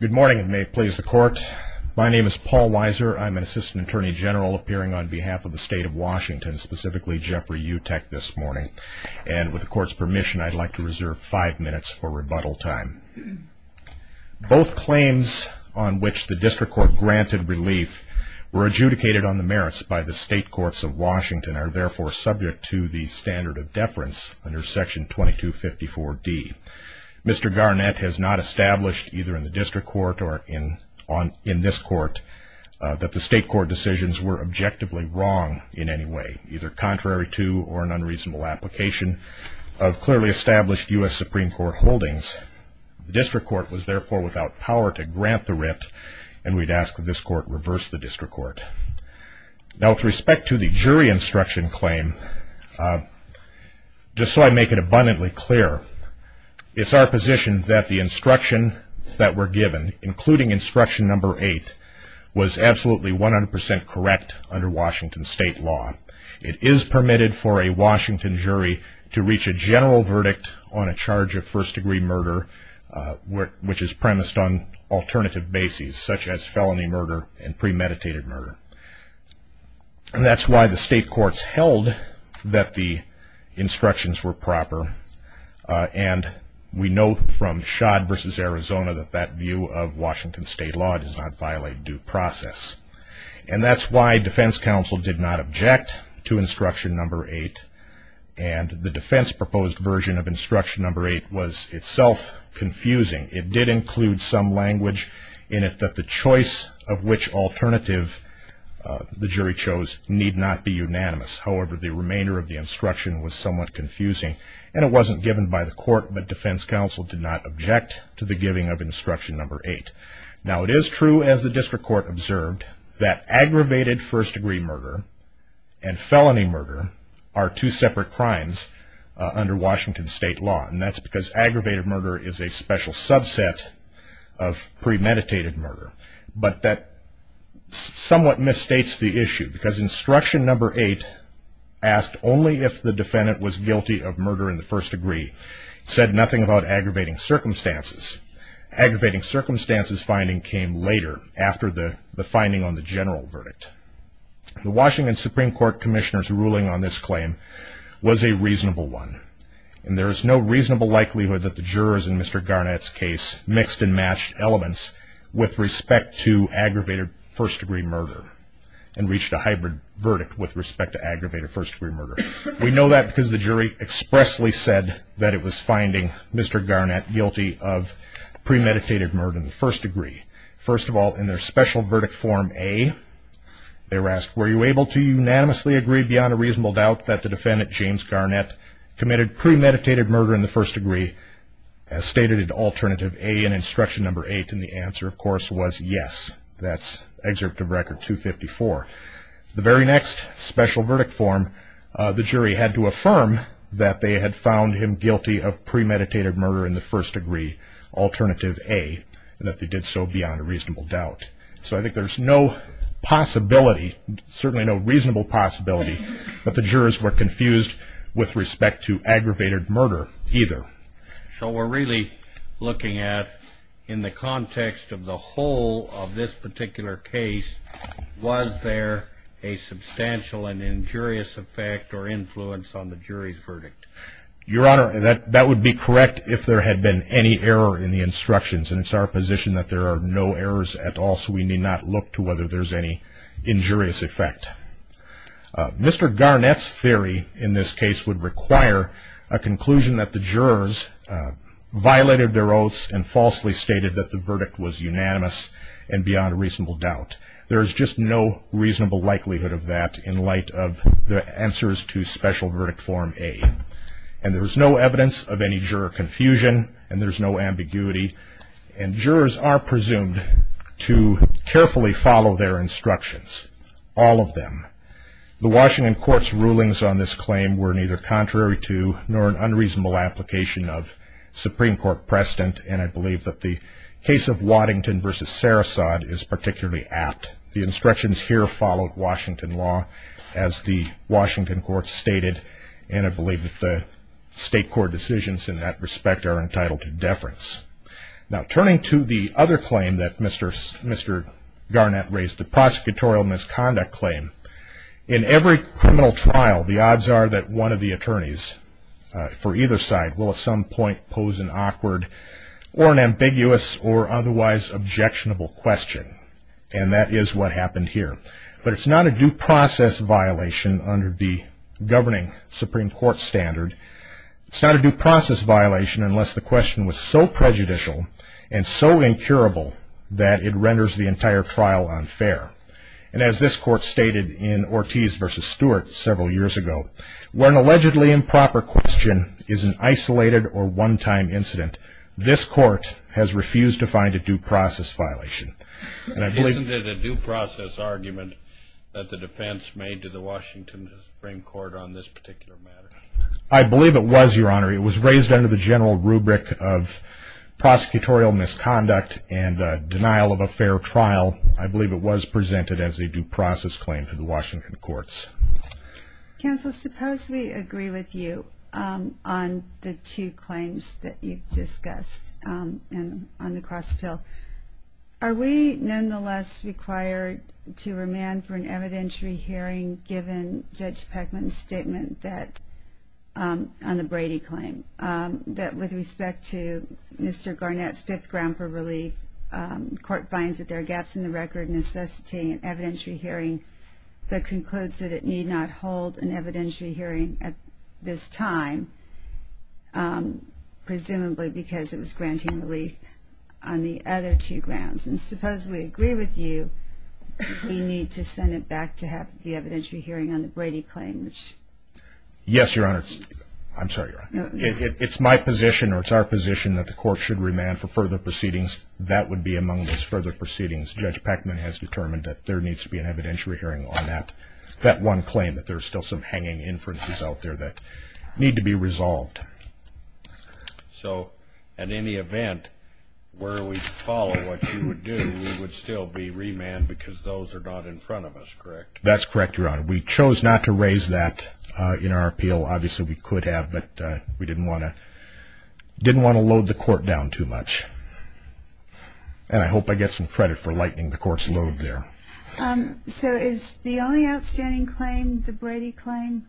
Good morning, and may it please the Court. My name is Paul Weiser. I'm an Assistant Attorney General appearing on behalf of the State of Washington, specifically Jeffrey Utecht, this morning. And with the Court's permission, I'd like to reserve five minutes for rebuttal time. Both claims on which the District Court granted relief were adjudicated on the merits by the State Courts of Washington, and are therefore subject to the standard of deference under Section 2254D. Mr. Garnett has not established, either in the District Court or in this Court, that the State Court decisions were objectively wrong in any way, either contrary to or an unreasonable application of clearly established U.S. Supreme Court holdings. The District Court was therefore without power to grant the writ, and we'd ask that this Court reverse the District Court. Now with respect to the jury instruction claim, just so I make it abundantly clear, it's our position that the instructions that were given, including instruction number eight, was absolutely 100% correct under Washington State law. It is permitted for a Washington jury to reach a general verdict on a charge of first-degree murder, which is premised on alternative bases, such as felony murder and premeditated murder. That's why the State Courts held that the instructions were proper, and we know from Schad v. Arizona that that view of Washington State law does not violate due process. And that's why Defense Counsel did not object to instruction number eight, and the defense-proposed version of instruction number eight was itself confusing. It did include some language in it that the choice of which alternative the jury chose need not be unanimous. However, the remainder of the instruction was somewhat confusing, and it wasn't given by the Court, but Defense Counsel did not object to the giving of instruction number eight. Now, it is true, as the District Court observed, that aggravated first-degree murder and felony murder are two separate crimes under Washington State law, and that's because aggravated murder is a special subset of premeditated murder. But that somewhat misstates the issue, because instruction number eight asked only if the defendant was guilty of murder in the first degree. It said nothing about aggravating circumstances. Aggravating circumstances finding came later, after the finding on the general verdict. The Washington Supreme Court Commissioner's ruling on this claim was a reasonable one, and there is no reasonable likelihood that the jurors in Mr. Garnett's case mixed and matched elements with respect to aggravated first-degree murder and reached a hybrid verdict with respect to aggravated first-degree murder. We know that because the jury expressly said that it was finding Mr. Garnett guilty of premeditated murder in the first degree. First of all, in their special verdict form A, they were asked, Were you able to unanimously agree, beyond a reasonable doubt, that the defendant, James Garnett, committed premeditated murder in the first degree, as stated in alternative A in instruction number eight? And the answer, of course, was yes. That's excerpt of Record 254. The very next special verdict form, the jury had to affirm that they had found him guilty of premeditated murder in the first degree, alternative A, and that they did so beyond a reasonable doubt. So I think there's no possibility, certainly no reasonable possibility, that the jurors were confused with respect to aggravated murder either. So we're really looking at, in the context of the whole of this particular case, was there a substantial and injurious effect or influence on the jury's verdict? Your Honor, that would be correct if there had been any error in the instructions, and it's our position that there are no errors at all, so we need not look to whether there's any injurious effect. Mr. Garnett's theory in this case would require a conclusion that the jurors violated their oaths and falsely stated that the verdict was unanimous and beyond a reasonable doubt. There's just no reasonable likelihood of that in light of the answers to special verdict form A. And there's no evidence of any juror confusion, and there's no ambiguity, and jurors are presumed to carefully follow their instructions, all of them. The Washington Court's rulings on this claim were neither contrary to nor an unreasonable application of Supreme Court precedent, and I believe that the case of Waddington v. Sarasot is particularly apt. The instructions here followed Washington law, as the Washington Court stated, and I believe that the state court decisions in that respect are entitled to deference. Now, turning to the other claim that Mr. Garnett raised, the prosecutorial misconduct claim, in every criminal trial, the odds are that one of the attorneys for either side will at some point pose an awkward or an ambiguous or otherwise objectionable question, and that is what happened here. But it's not a due process violation under the governing Supreme Court standard. It's not a due process violation unless the question was so prejudicial and so incurable that it renders the entire trial unfair. And as this court stated in Ortiz v. Stewart several years ago, where an allegedly improper question is an isolated or one-time incident, this court has refused to find a due process violation. Isn't it a due process argument that the defense made to the Washington Supreme Court on this particular matter? I believe it was, Your Honor. It was raised under the general rubric of prosecutorial misconduct and denial of a fair trial. I believe it was presented as a due process claim to the Washington courts. Counsel, suppose we agree with you on the two claims that you've discussed on the cross-appeal. Are we nonetheless required to remand for an evidentiary hearing given Judge Peckman's statement on the Brady claim, that with respect to Mr. Garnett's fifth ground for relief, the court finds that there are gaps in the record, necessity, and evidentiary hearing that concludes that it need not hold an evidentiary hearing at this time, presumably because it was granting relief on the other two grounds. And suppose we agree with you we need to send it back to have the evidentiary hearing on the Brady claim. Yes, Your Honor. I'm sorry, Your Honor. It's my position or it's our position that the court should remand for further proceedings. That would be among those further proceedings. Judge Peckman has determined that there needs to be an evidentiary hearing on that one claim, that there are still some hanging inferences out there that need to be resolved. So in any event, where we follow what you would do, we would still be remanded because those are not in front of us, correct? That's correct, Your Honor. We chose not to raise that in our appeal. Obviously, we could have, but we didn't want to load the court down too much. And I hope I get some credit for lightening the court's load there. So is the only outstanding claim the Brady claim?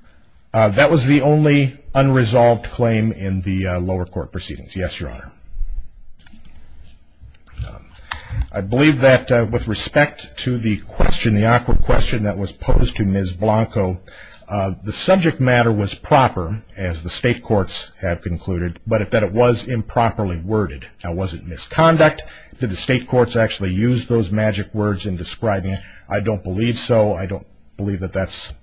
That was the only unresolved claim in the lower court proceedings. Yes, Your Honor. I believe that with respect to the question, the awkward question that was posed to Ms. Blanco, the subject matter was proper as the state courts have concluded, but that it was improperly worded. Now, was it misconduct? Did the state courts actually use those magic words in describing it? I don't believe so. I don't believe that that's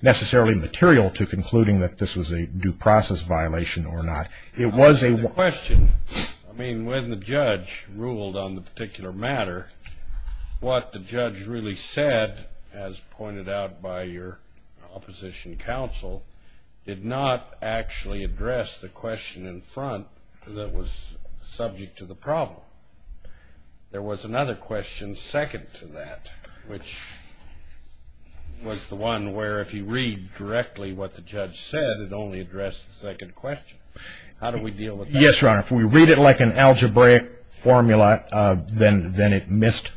necessarily material to concluding that this was a due process violation or not. It was a question. I mean, when the judge ruled on the particular matter, what the judge really said, as pointed out by your opposition counsel, did not actually address the question in front that was subject to the problem. There was another question second to that, which was the one where if you read directly what the judge said, it only addressed the second question. How do we deal with that? Yes, Your Honor. If we read it like an algebraic formula, then it missed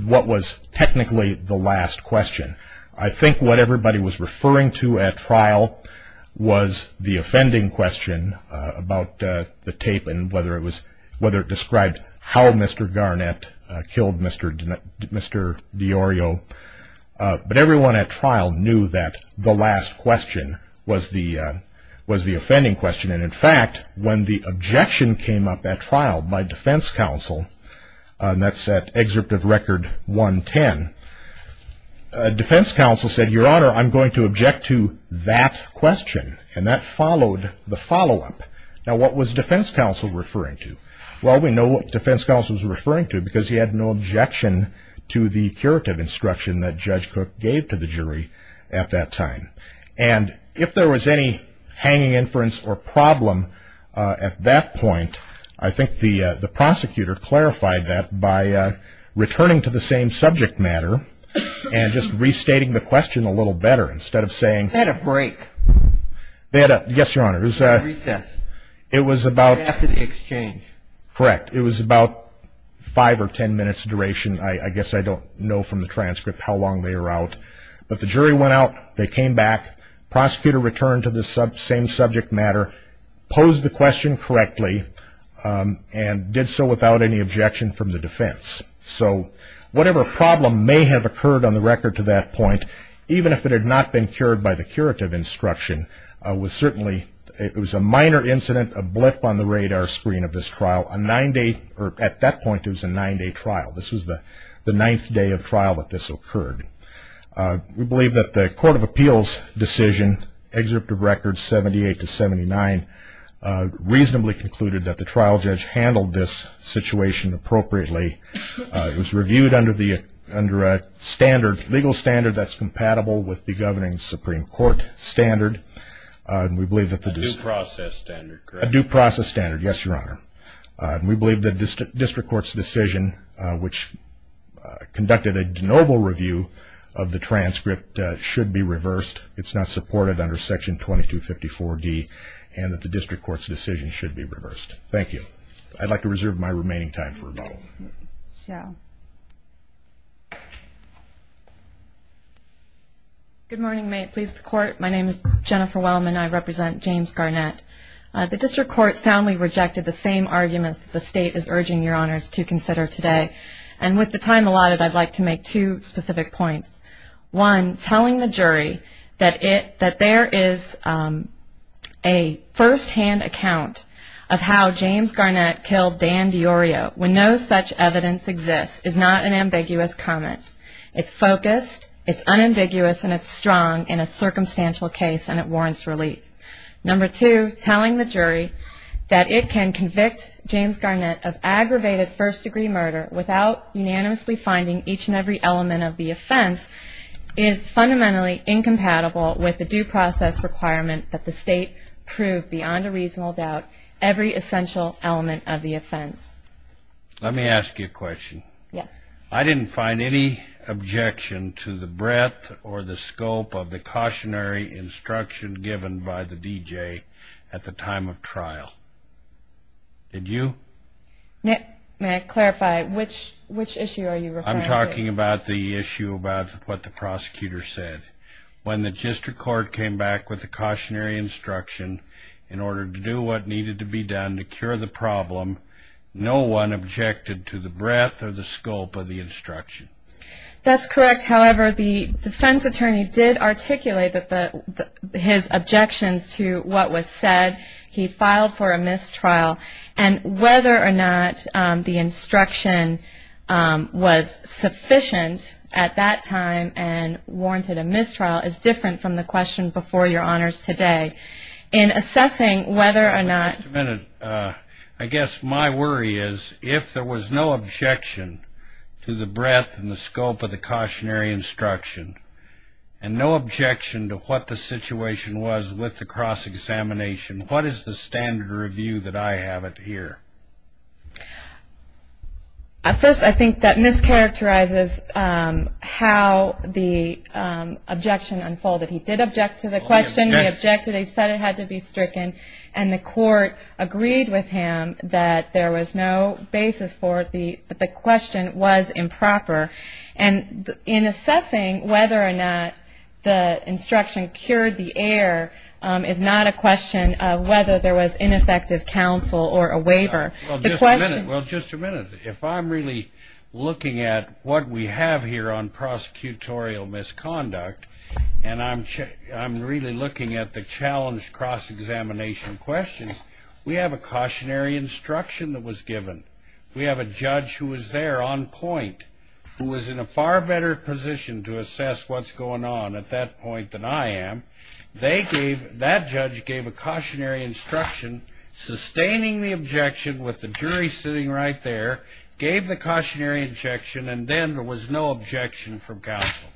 what was technically the last question. I think what everybody was referring to at trial was the offending question about the tape and whether it described how Mr. Garnett killed Mr. DiOrio. But everyone at trial knew that the last question was the offending question. In fact, when the objection came up at trial by defense counsel, and that's at Excerpt of Record 110, defense counsel said, Your Honor, I'm going to object to that question. And that followed the follow-up. Now, what was defense counsel referring to? Well, we know what defense counsel was referring to because he had no objection to the curative instruction that Judge Cook gave to the jury at that time. And if there was any hanging inference or problem at that point, I think the prosecutor clarified that by returning to the same subject matter and just restating the question a little better instead of saying ---- They had a break. Yes, Your Honor. It was a recess. It was about ---- Right after the exchange. Correct. It was about five or ten minutes duration. I guess I don't know from the transcript how long they were out. But the jury went out. They came back. Prosecutor returned to the same subject matter, posed the question correctly, and did so without any objection from the defense. So whatever problem may have occurred on the record to that point, even if it had not been cured by the curative instruction, it was a minor incident, a blip on the radar screen of this trial. At that point, it was a nine-day trial. This was the ninth day of trial that this occurred. We believe that the Court of Appeals decision, Excerpt of Records 78-79, reasonably concluded that the trial judge handled this situation appropriately. It was reviewed under a standard, legal standard that's compatible with the governing Supreme Court standard. A due process standard, correct? A due process standard, yes, Your Honor. We believe that the district court's decision, which conducted a de novo review of the transcript, should be reversed. It's not supported under Section 2254-D, and that the district court's decision should be reversed. Thank you. I'd like to reserve my remaining time for rebuttal. Good morning. May it please the Court. My name is Jennifer Wellman. I represent James Garnett. The district court soundly rejected the same arguments that the State is urging Your Honors to consider today. And with the time allotted, I'd like to make two specific points. One, telling the jury that there is a firsthand account of how James Garnett killed Dan DiIorio when no such evidence exists is not an ambiguous comment. It's focused, it's unambiguous, and it's strong in a circumstantial case, and it warrants relief. Number two, telling the jury that it can convict James Garnett of aggravated first-degree murder without unanimously finding each and every element of the offense is fundamentally incompatible with the due process requirement that the State prove beyond a reasonable doubt every essential element of the offense. Let me ask you a question. Yes. I didn't find any objection to the breadth or the scope of the cautionary instruction given by the DJ at the time of trial. Did you? May I clarify? Which issue are you referring to? I'm talking about the issue about what the prosecutor said. When the district court came back with the cautionary instruction in order to do what needed to be done to cure the problem, no one objected to the breadth or the scope of the instruction. That's correct. However, the defense attorney did articulate his objections to what was said. He filed for a mistrial, and whether or not the instruction was sufficient at that time and warranted a mistrial is different from the question before your honors today. In assessing whether or not – Just a minute. I guess my worry is if there was no objection to the breadth and the scope of the cautionary instruction and no objection to what the situation was with the cross-examination, what is the standard review that I have it here? First, I think that mischaracterizes how the objection unfolded. He did object to the question. He objected. He said it had to be stricken. And the court agreed with him that there was no basis for it. The question was improper. And in assessing whether or not the instruction cured the error is not a question of whether there was ineffective counsel or a waiver. Well, just a minute. If I'm really looking at what we have here on prosecutorial misconduct and I'm really looking at the challenge cross-examination question, we have a cautionary instruction that was given. We have a judge who was there on point, who was in a far better position to assess what's going on at that point than I am. That judge gave a cautionary instruction, sustaining the objection with the jury sitting right there, gave the cautionary instruction, and then there was no objection from counsel.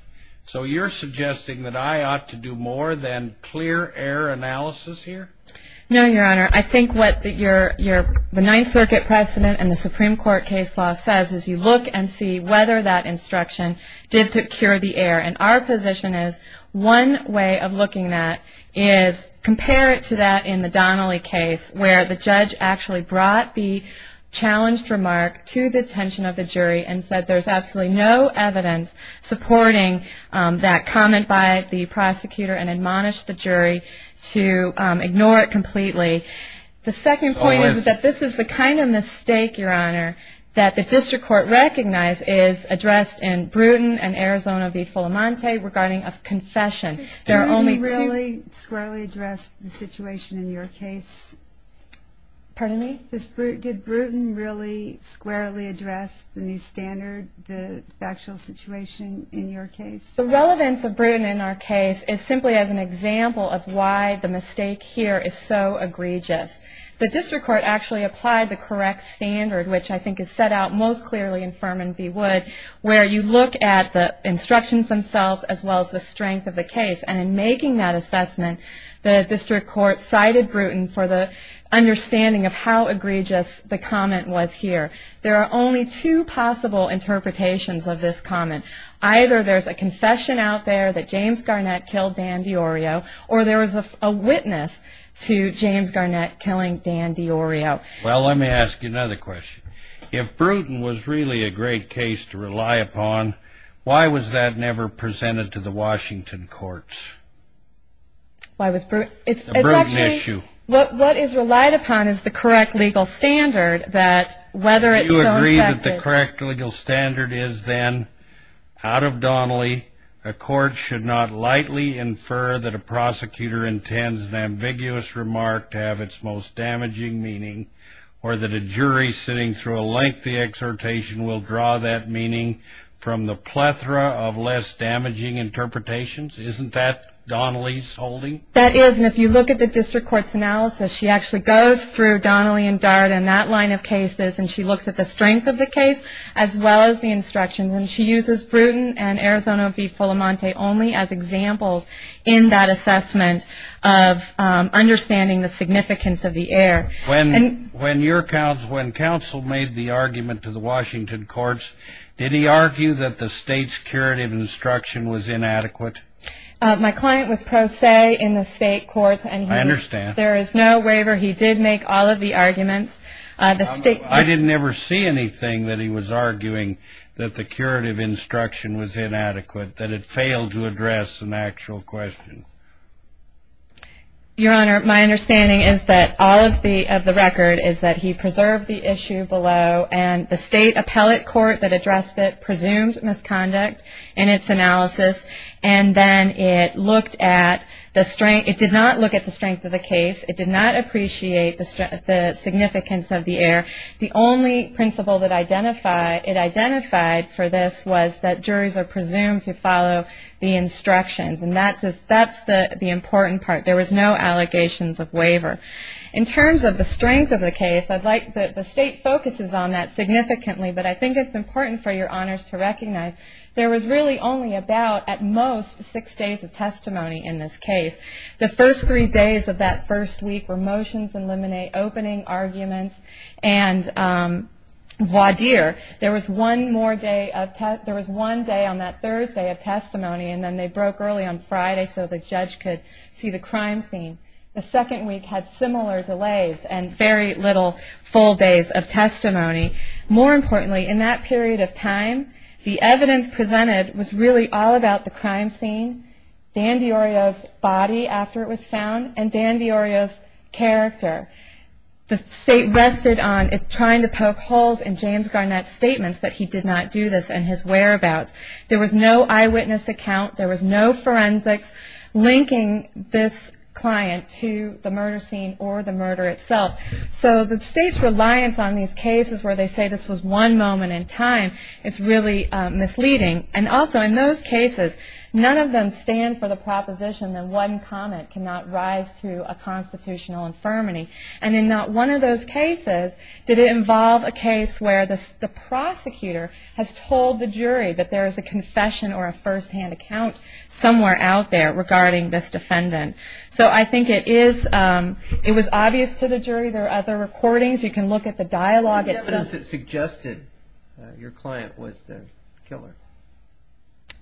So you're suggesting that I ought to do more than clear error analysis here? No, Your Honor. I think what the Ninth Circuit precedent and the Supreme Court case law says is you look and see whether that instruction did cure the error. And our position is one way of looking at it is compare it to that in the Donnelly case where the judge actually brought the challenged remark to the attention of the jury and said there's absolutely no evidence supporting that comment by the prosecutor and admonished the jury to ignore it completely. The second point is that this is the kind of mistake, Your Honor, that the district court recognized is addressed in Bruton and Arizona v. Fulamonte regarding a confession. Did Bruton really squarely address the situation in your case? Pardon me? Did Bruton really squarely address the new standard, the factual situation in your case? The relevance of Bruton in our case is simply as an example of why the mistake here is so egregious. The district court actually applied the correct standard, which I think is set out most clearly in Furman v. Wood, where you look at the instructions themselves as well as the strength of the case. And in making that assessment, the district court cited Bruton for the understanding of how egregious the comment was here. There are only two possible interpretations of this comment. Either there's a confession out there that James Garnett killed Dan DiIorio or there was a witness to James Garnett killing Dan DiIorio. Well, let me ask you another question. If Bruton was really a great case to rely upon, why was that never presented to the Washington courts? Why was Bruton? It's a Bruton issue. It's actually what is relied upon is the correct legal standard that whether it's so effective. Do you agree that the correct legal standard is then, out of Donnelly, a court should not lightly infer that a prosecutor intends an ambiguous remark to have its most damaging meaning or that a jury sitting through a lengthy exhortation will draw that meaning from the plethora of less damaging interpretations? Isn't that Donnelly's holding? That is. And if you look at the district court's analysis, she actually goes through Donnelly and Dart and that line of cases and she looks at the strength of the case as well as the instructions. And she uses Bruton and Arizona v. Fulamonte only as examples in that assessment of understanding the significance of the error. When counsel made the argument to the Washington courts, did he argue that the state's curative instruction was inadequate? My client was pro se in the state courts. I understand. There is no waiver. He did make all of the arguments. I didn't ever see anything that he was arguing that the curative instruction was inadequate, that it failed to address an actual question. Your Honor, my understanding is that all of the record is that he preserved the issue below and the state appellate court that addressed it presumed misconduct in its analysis and then it looked at the strength. It did not look at the strength of the case. It did not appreciate the significance of the error. The only principle it identified for this was that juries are presumed to follow the instructions, and that's the important part. There was no allegations of waiver. In terms of the strength of the case, the state focuses on that significantly, but I think it's important for your honors to recognize there was really only about, at most, six days of testimony in this case. The first three days of that first week were motions in limine, opening arguments, and voir dire. There was one day on that Thursday of testimony, and then they broke early on Friday so the judge could see the crime scene. The second week had similar delays and very little full days of testimony. More importantly, in that period of time, the evidence presented was really all about the crime scene, Dan D'Orio's body after it was found, and Dan D'Orio's character. The state rested on trying to poke holes in James Garnett's statements that he did not do this and his whereabouts. There was no eyewitness account. There was no forensics linking this client to the murder scene or the murder itself. So the state's reliance on these cases where they say this was one moment in time is really misleading, and also in those cases, none of them stand for the proposition that one comment cannot rise to a constitutional infirmity. And in not one of those cases did it involve a case where the prosecutor has told the jury that there is a confession or a firsthand account somewhere out there regarding this defendant. So I think it was obvious to the jury. There are other recordings. You can look at the dialogue. What was the evidence that suggested your client was the killer?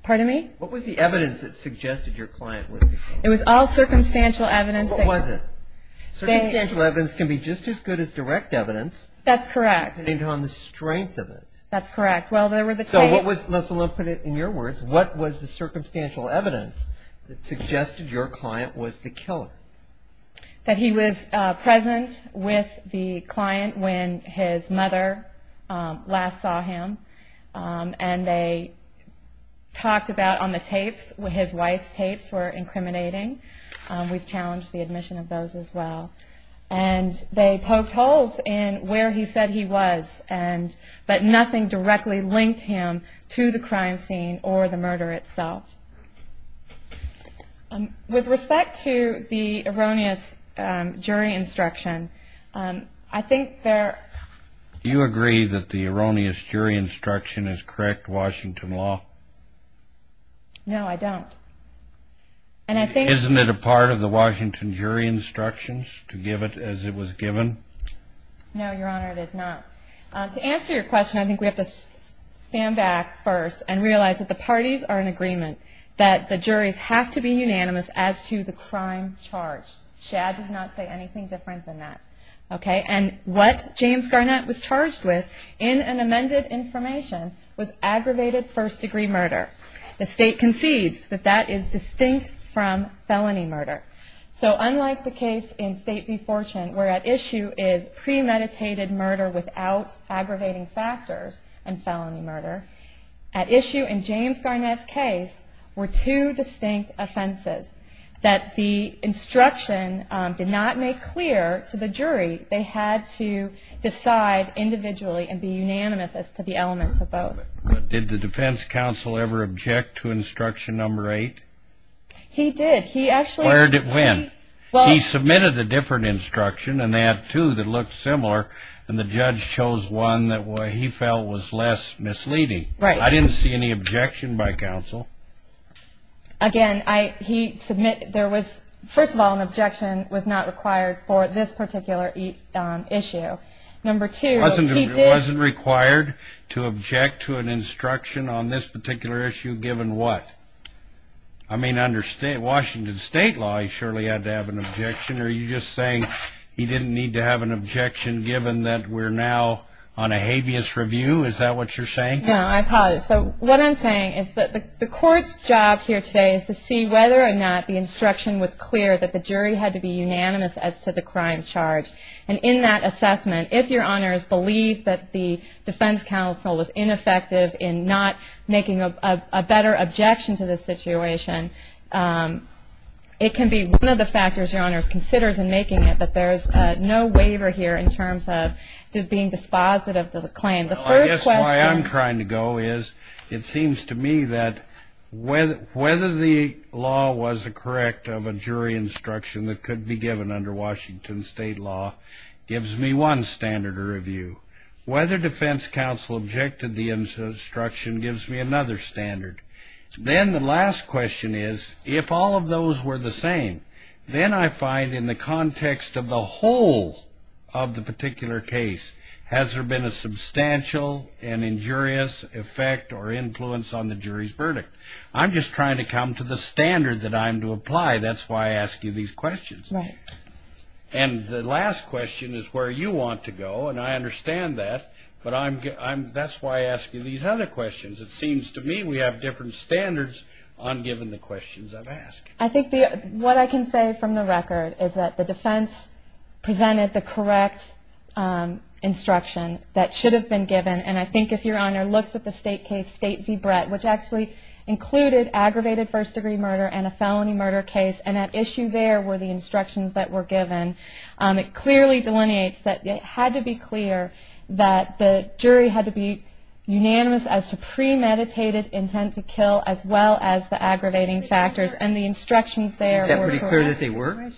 Pardon me? What was the evidence that suggested your client was the killer? It was all circumstantial evidence. What was it? Circumstantial evidence can be just as good as direct evidence. That's correct. Depending on the strength of it. That's correct. Well, there were the tapes. So let's put it in your words. What was the circumstantial evidence that suggested your client was the killer? That he was present with the client when his mother last saw him, and they talked about on the tapes, his wife's tapes were incriminating. We've challenged the admission of those as well. And they poked holes in where he said he was, but nothing directly linked him to the crime scene or the murder itself. With respect to the erroneous jury instruction, I think there... Do you agree that the erroneous jury instruction is correct Washington law? No, I don't. And I think... Isn't it a part of the Washington jury instructions to give it as it was given? No, Your Honor, it is not. To answer your question, I think we have to stand back first and realize that the parties are in agreement, that the juries have to be unanimous as to the crime charged. Shad does not say anything different than that. And what James Garnett was charged with in an amended information was aggravated first-degree murder. The state concedes that that is distinct from felony murder. So unlike the case in State v. Fortune, where at issue is premeditated murder without aggravating factors and felony murder, at issue in James Garnett's case were two distinct offenses that the instruction did not make clear to the jury. They had to decide individually and be unanimous as to the elements of both. Did the defense counsel ever object to instruction number eight? He did. He actually... Where did it win? He submitted a different instruction, and they had two that looked similar, and the judge chose one that he felt was less misleading. Right. I didn't see any objection by counsel. Again, he submitted... First of all, an objection was not required for this particular issue. Number two, he did... It wasn't required to object to an instruction on this particular issue given what? I mean, under Washington State law, he surely had to have an objection. Are you just saying he didn't need to have an objection given that we're now on a habeas review? Is that what you're saying? No, I apologize. So what I'm saying is that the court's job here today is to see whether or not the instruction was clear that the jury had to be unanimous as to the crime charged. And in that assessment, if your honors believe that the defense counsel was ineffective in not making a better objection to the situation, it can be one of the factors your honors considers in making it, but there's no waiver here in terms of being dispositive of the claim. The first question... Well, I guess why I'm trying to go is it seems to me that whether the law was correct of a jury instruction that could be given under Washington State law gives me one standard to review. Whether defense counsel objected to the instruction gives me another standard. Then the last question is if all of those were the same, then I find in the context of the whole of the particular case, has there been a substantial and injurious effect or influence on the jury's verdict? I'm just trying to come to the standard that I'm to apply. That's why I ask you these questions. Right. And the last question is where you want to go, and I understand that, but that's why I ask you these other questions. It seems to me we have different standards on giving the questions I've asked. I think what I can say from the record is that the defense presented the correct instruction that should have been given, and I think if your honor looks at the state case, State v. Brett, which actually included aggravated first degree murder and a felony murder case, and at issue there were the instructions that were given. It clearly delineates that it had to be clear that the jury had to be unanimous as to premeditated intent to kill as well as the aggravating factors, and the instructions there were correct. Is that pretty clear that they were?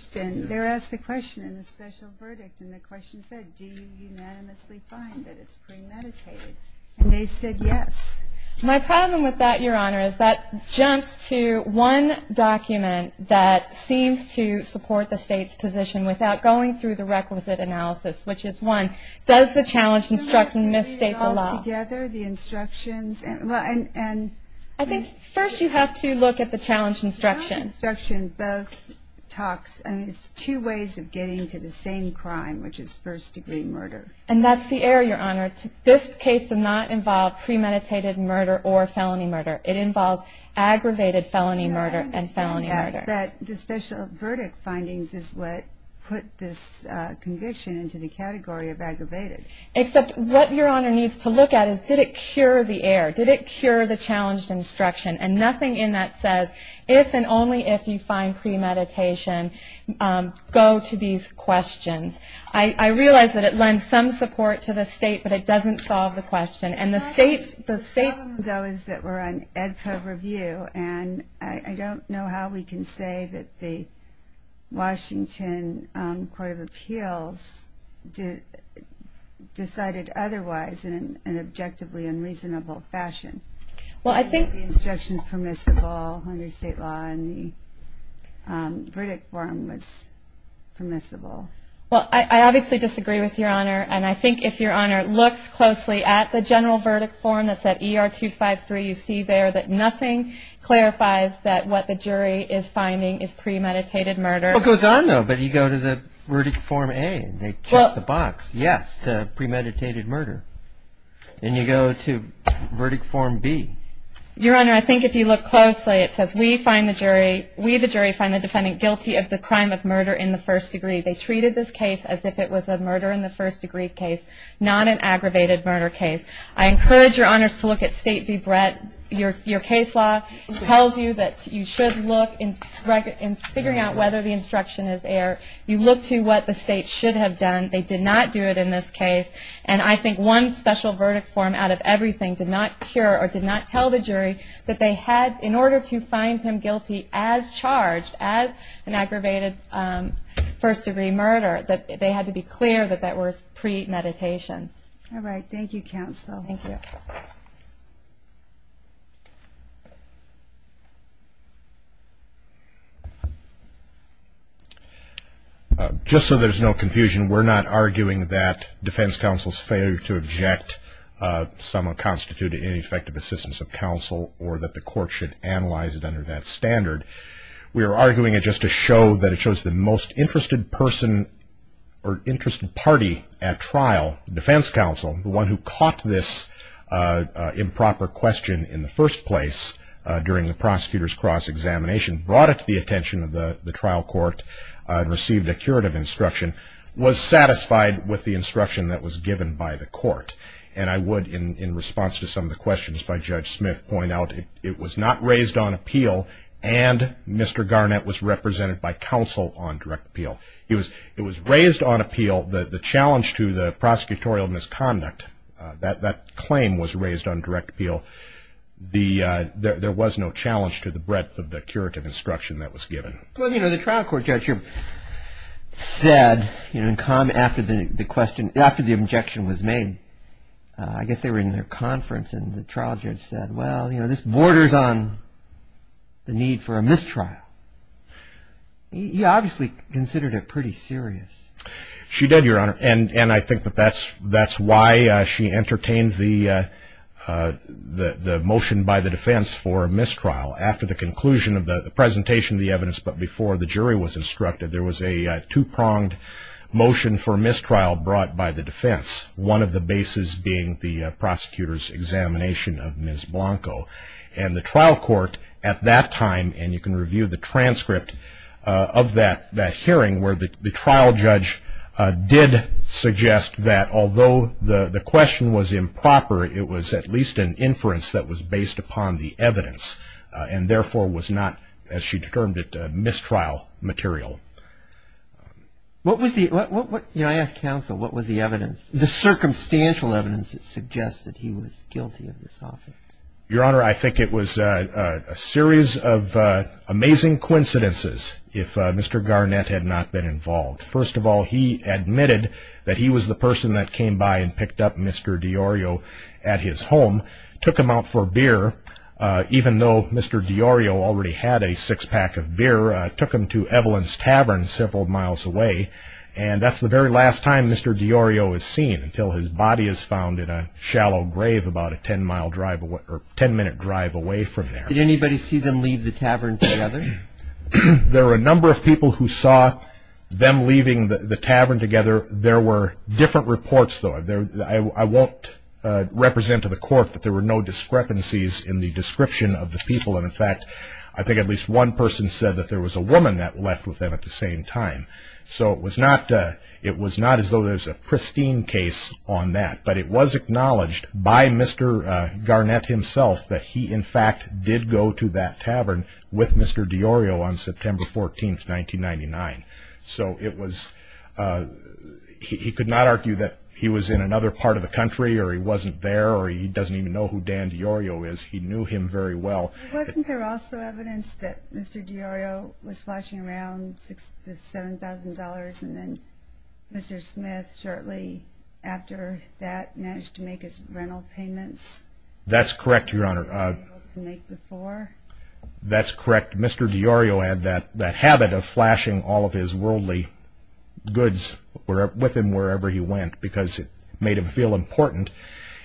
They were asked the question in the special verdict, and the question said, do you unanimously find that it's premeditated? And they said yes. My problem with that, your honor, is that jumps to one document that seems to support the state's position without going through the requisite analysis, which is one, does the challenge instruction misstate the law? I think first you have to look at the challenge instruction. The challenge instruction both talks, and it's two ways of getting to the same crime, which is first degree murder. And that's the error, your honor. This case did not involve premeditated murder or felony murder. It involves aggravated felony murder and felony murder. The special verdict findings is what put this conviction into the category of aggravated. Except what your honor needs to look at is did it cure the error? Did it cure the challenge instruction? And nothing in that says, if and only if you find premeditation, go to these questions. I realize that it lends some support to the state, but it doesn't solve the question. And the state's... The problem, though, is that we're on Edpo review, and I don't know how we can say that the Washington Court of Appeals decided otherwise in an objectively unreasonable fashion. Well, I think... The instruction's permissible under state law, and the verdict form was permissible. Well, I obviously disagree with your honor, and I think if your honor looks closely at the general verdict form that's at ER 253, you see there that nothing clarifies that what the jury is finding is premeditated murder. It goes on, though. But you go to the verdict form A, and they check the box, yes, to premeditated murder. And you go to verdict form B. Your honor, I think if you look closely, it says, we the jury find the defendant guilty of the crime of murder in the first degree. They treated this case as if it was a murder in the first degree case, not an aggravated murder case. I encourage your honors to look at state v. Brett. Your case law tells you that you should look in figuring out whether the instruction is air. You look to what the state should have done. They did not do it in this case. And I think one special verdict form out of everything did not cure or did not tell the jury that they had, in order to find him guilty as charged as an aggravated first degree murder, that they had to be clear that that was premeditation. All right. Thank you, counsel. Thank you. Just so there's no confusion, we're not arguing that defense counsel's failure to object somewhat constituted ineffective assistance of counsel or that the court should analyze it under that standard. We are arguing it just to show that it shows the most interested person or interested party at trial, defense counsel, the one who caught this improper question in the first place during the prosecutor's cross examination, brought it to the attention of the trial court, received a curative instruction, was satisfied with the instruction that was given by the court. And I would, in response to some of the questions by Judge Smith, point out it was not raised on appeal and Mr. Garnett was represented by counsel on direct appeal. It was raised on appeal. The challenge to the prosecutorial misconduct, that claim was raised on direct appeal. There was no challenge to the breadth of the curative instruction that was given. Well, you know, the trial court judge here said in comment after the question, after the objection was made, I guess they were in their conference and the trial judge said, well, you know, this borders on the need for a mistrial. He obviously considered it pretty serious. She did, Your Honor, and I think that's why she entertained the motion by the defense for a mistrial. After the conclusion of the presentation of the evidence, but before the jury was instructed, there was a two-pronged motion for mistrial brought by the defense, one of the bases being the prosecutor's examination of Ms. Blanco. And the trial court at that time, and you can review the transcript of that hearing, where the trial judge did suggest that although the question was improper, it was at least an inference that was based upon the evidence and therefore was not, as she termed it, mistrial material. What was the, you know, I asked counsel what was the evidence, the circumstantial evidence that suggested he was guilty of this offense? Your Honor, I think it was a series of amazing coincidences if Mr. Garnett had not been involved. First of all, he admitted that he was the person that came by and picked up Mr. DiOrio at his home, took him out for beer, even though Mr. DiOrio already had a six-pack of beer, took him to Evelyn's Tavern several miles away, and that's the very last time Mr. DiOrio is seen, until his body is found in a shallow grave about a ten-minute drive away from there. Did anybody see them leave the tavern together? There were a number of people who saw them leaving the tavern together. There were different reports, though. I won't represent to the court that there were no discrepancies in the description of the people, and, in fact, I think at least one person said that there was a woman that left with them at the same time. So it was not as though there was a pristine case on that, but it was acknowledged by Mr. Garnett himself that he, in fact, did go to that tavern with Mr. DiOrio on September 14, 1999. So he could not argue that he was in another part of the country or he wasn't there or he doesn't even know who Dan DiOrio is. He knew him very well. Wasn't there also evidence that Mr. DiOrio was flashing around the $7,000 and then Mr. Smith shortly after that managed to make his rental payments? That's correct, Your Honor. That he was able to make before? That's correct. Mr. DiOrio had that habit of flashing all of his worldly goods with him wherever he went because it made him feel important,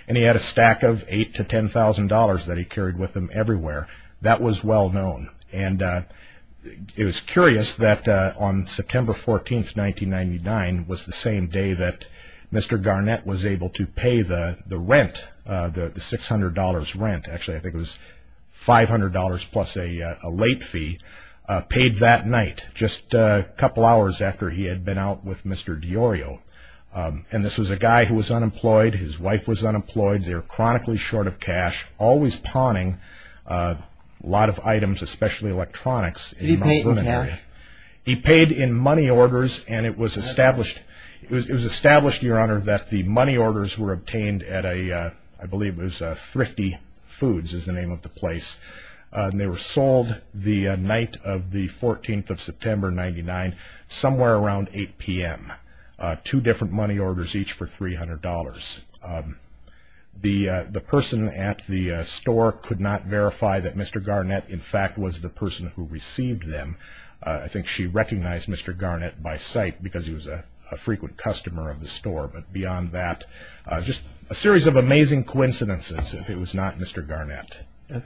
and he had a stack of $8,000 to $10,000 that he carried with him everywhere. That was well known. It was curious that on September 14, 1999, was the same day that Mr. Garnett was able to pay the rent, the $600 rent, actually I think it was $500 plus a late fee, paid that night, just a couple hours after he had been out with Mr. DiOrio. This was a guy who was unemployed, his wife was unemployed, they were chronically short of cash, always pawning a lot of items, especially electronics. Did he pay it in cash? He paid in money orders and it was established, it was established, Your Honor, that the money orders were obtained at a, I believe it was Thrifty Foods is the name of the place. They were sold the night of the 14th of September, 1999, somewhere around 8 p.m. Two different money orders each for $300. The person at the store could not verify that Mr. Garnett, in fact, was the person who received them. I think she recognized Mr. Garnett by sight because he was a frequent customer of the store, but beyond that, just a series of amazing coincidences if it was not Mr. Garnett. All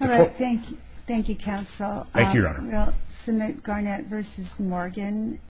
right, thank you, counsel. Thank you, Your Honor. We'll submit Garnett v. Morgan.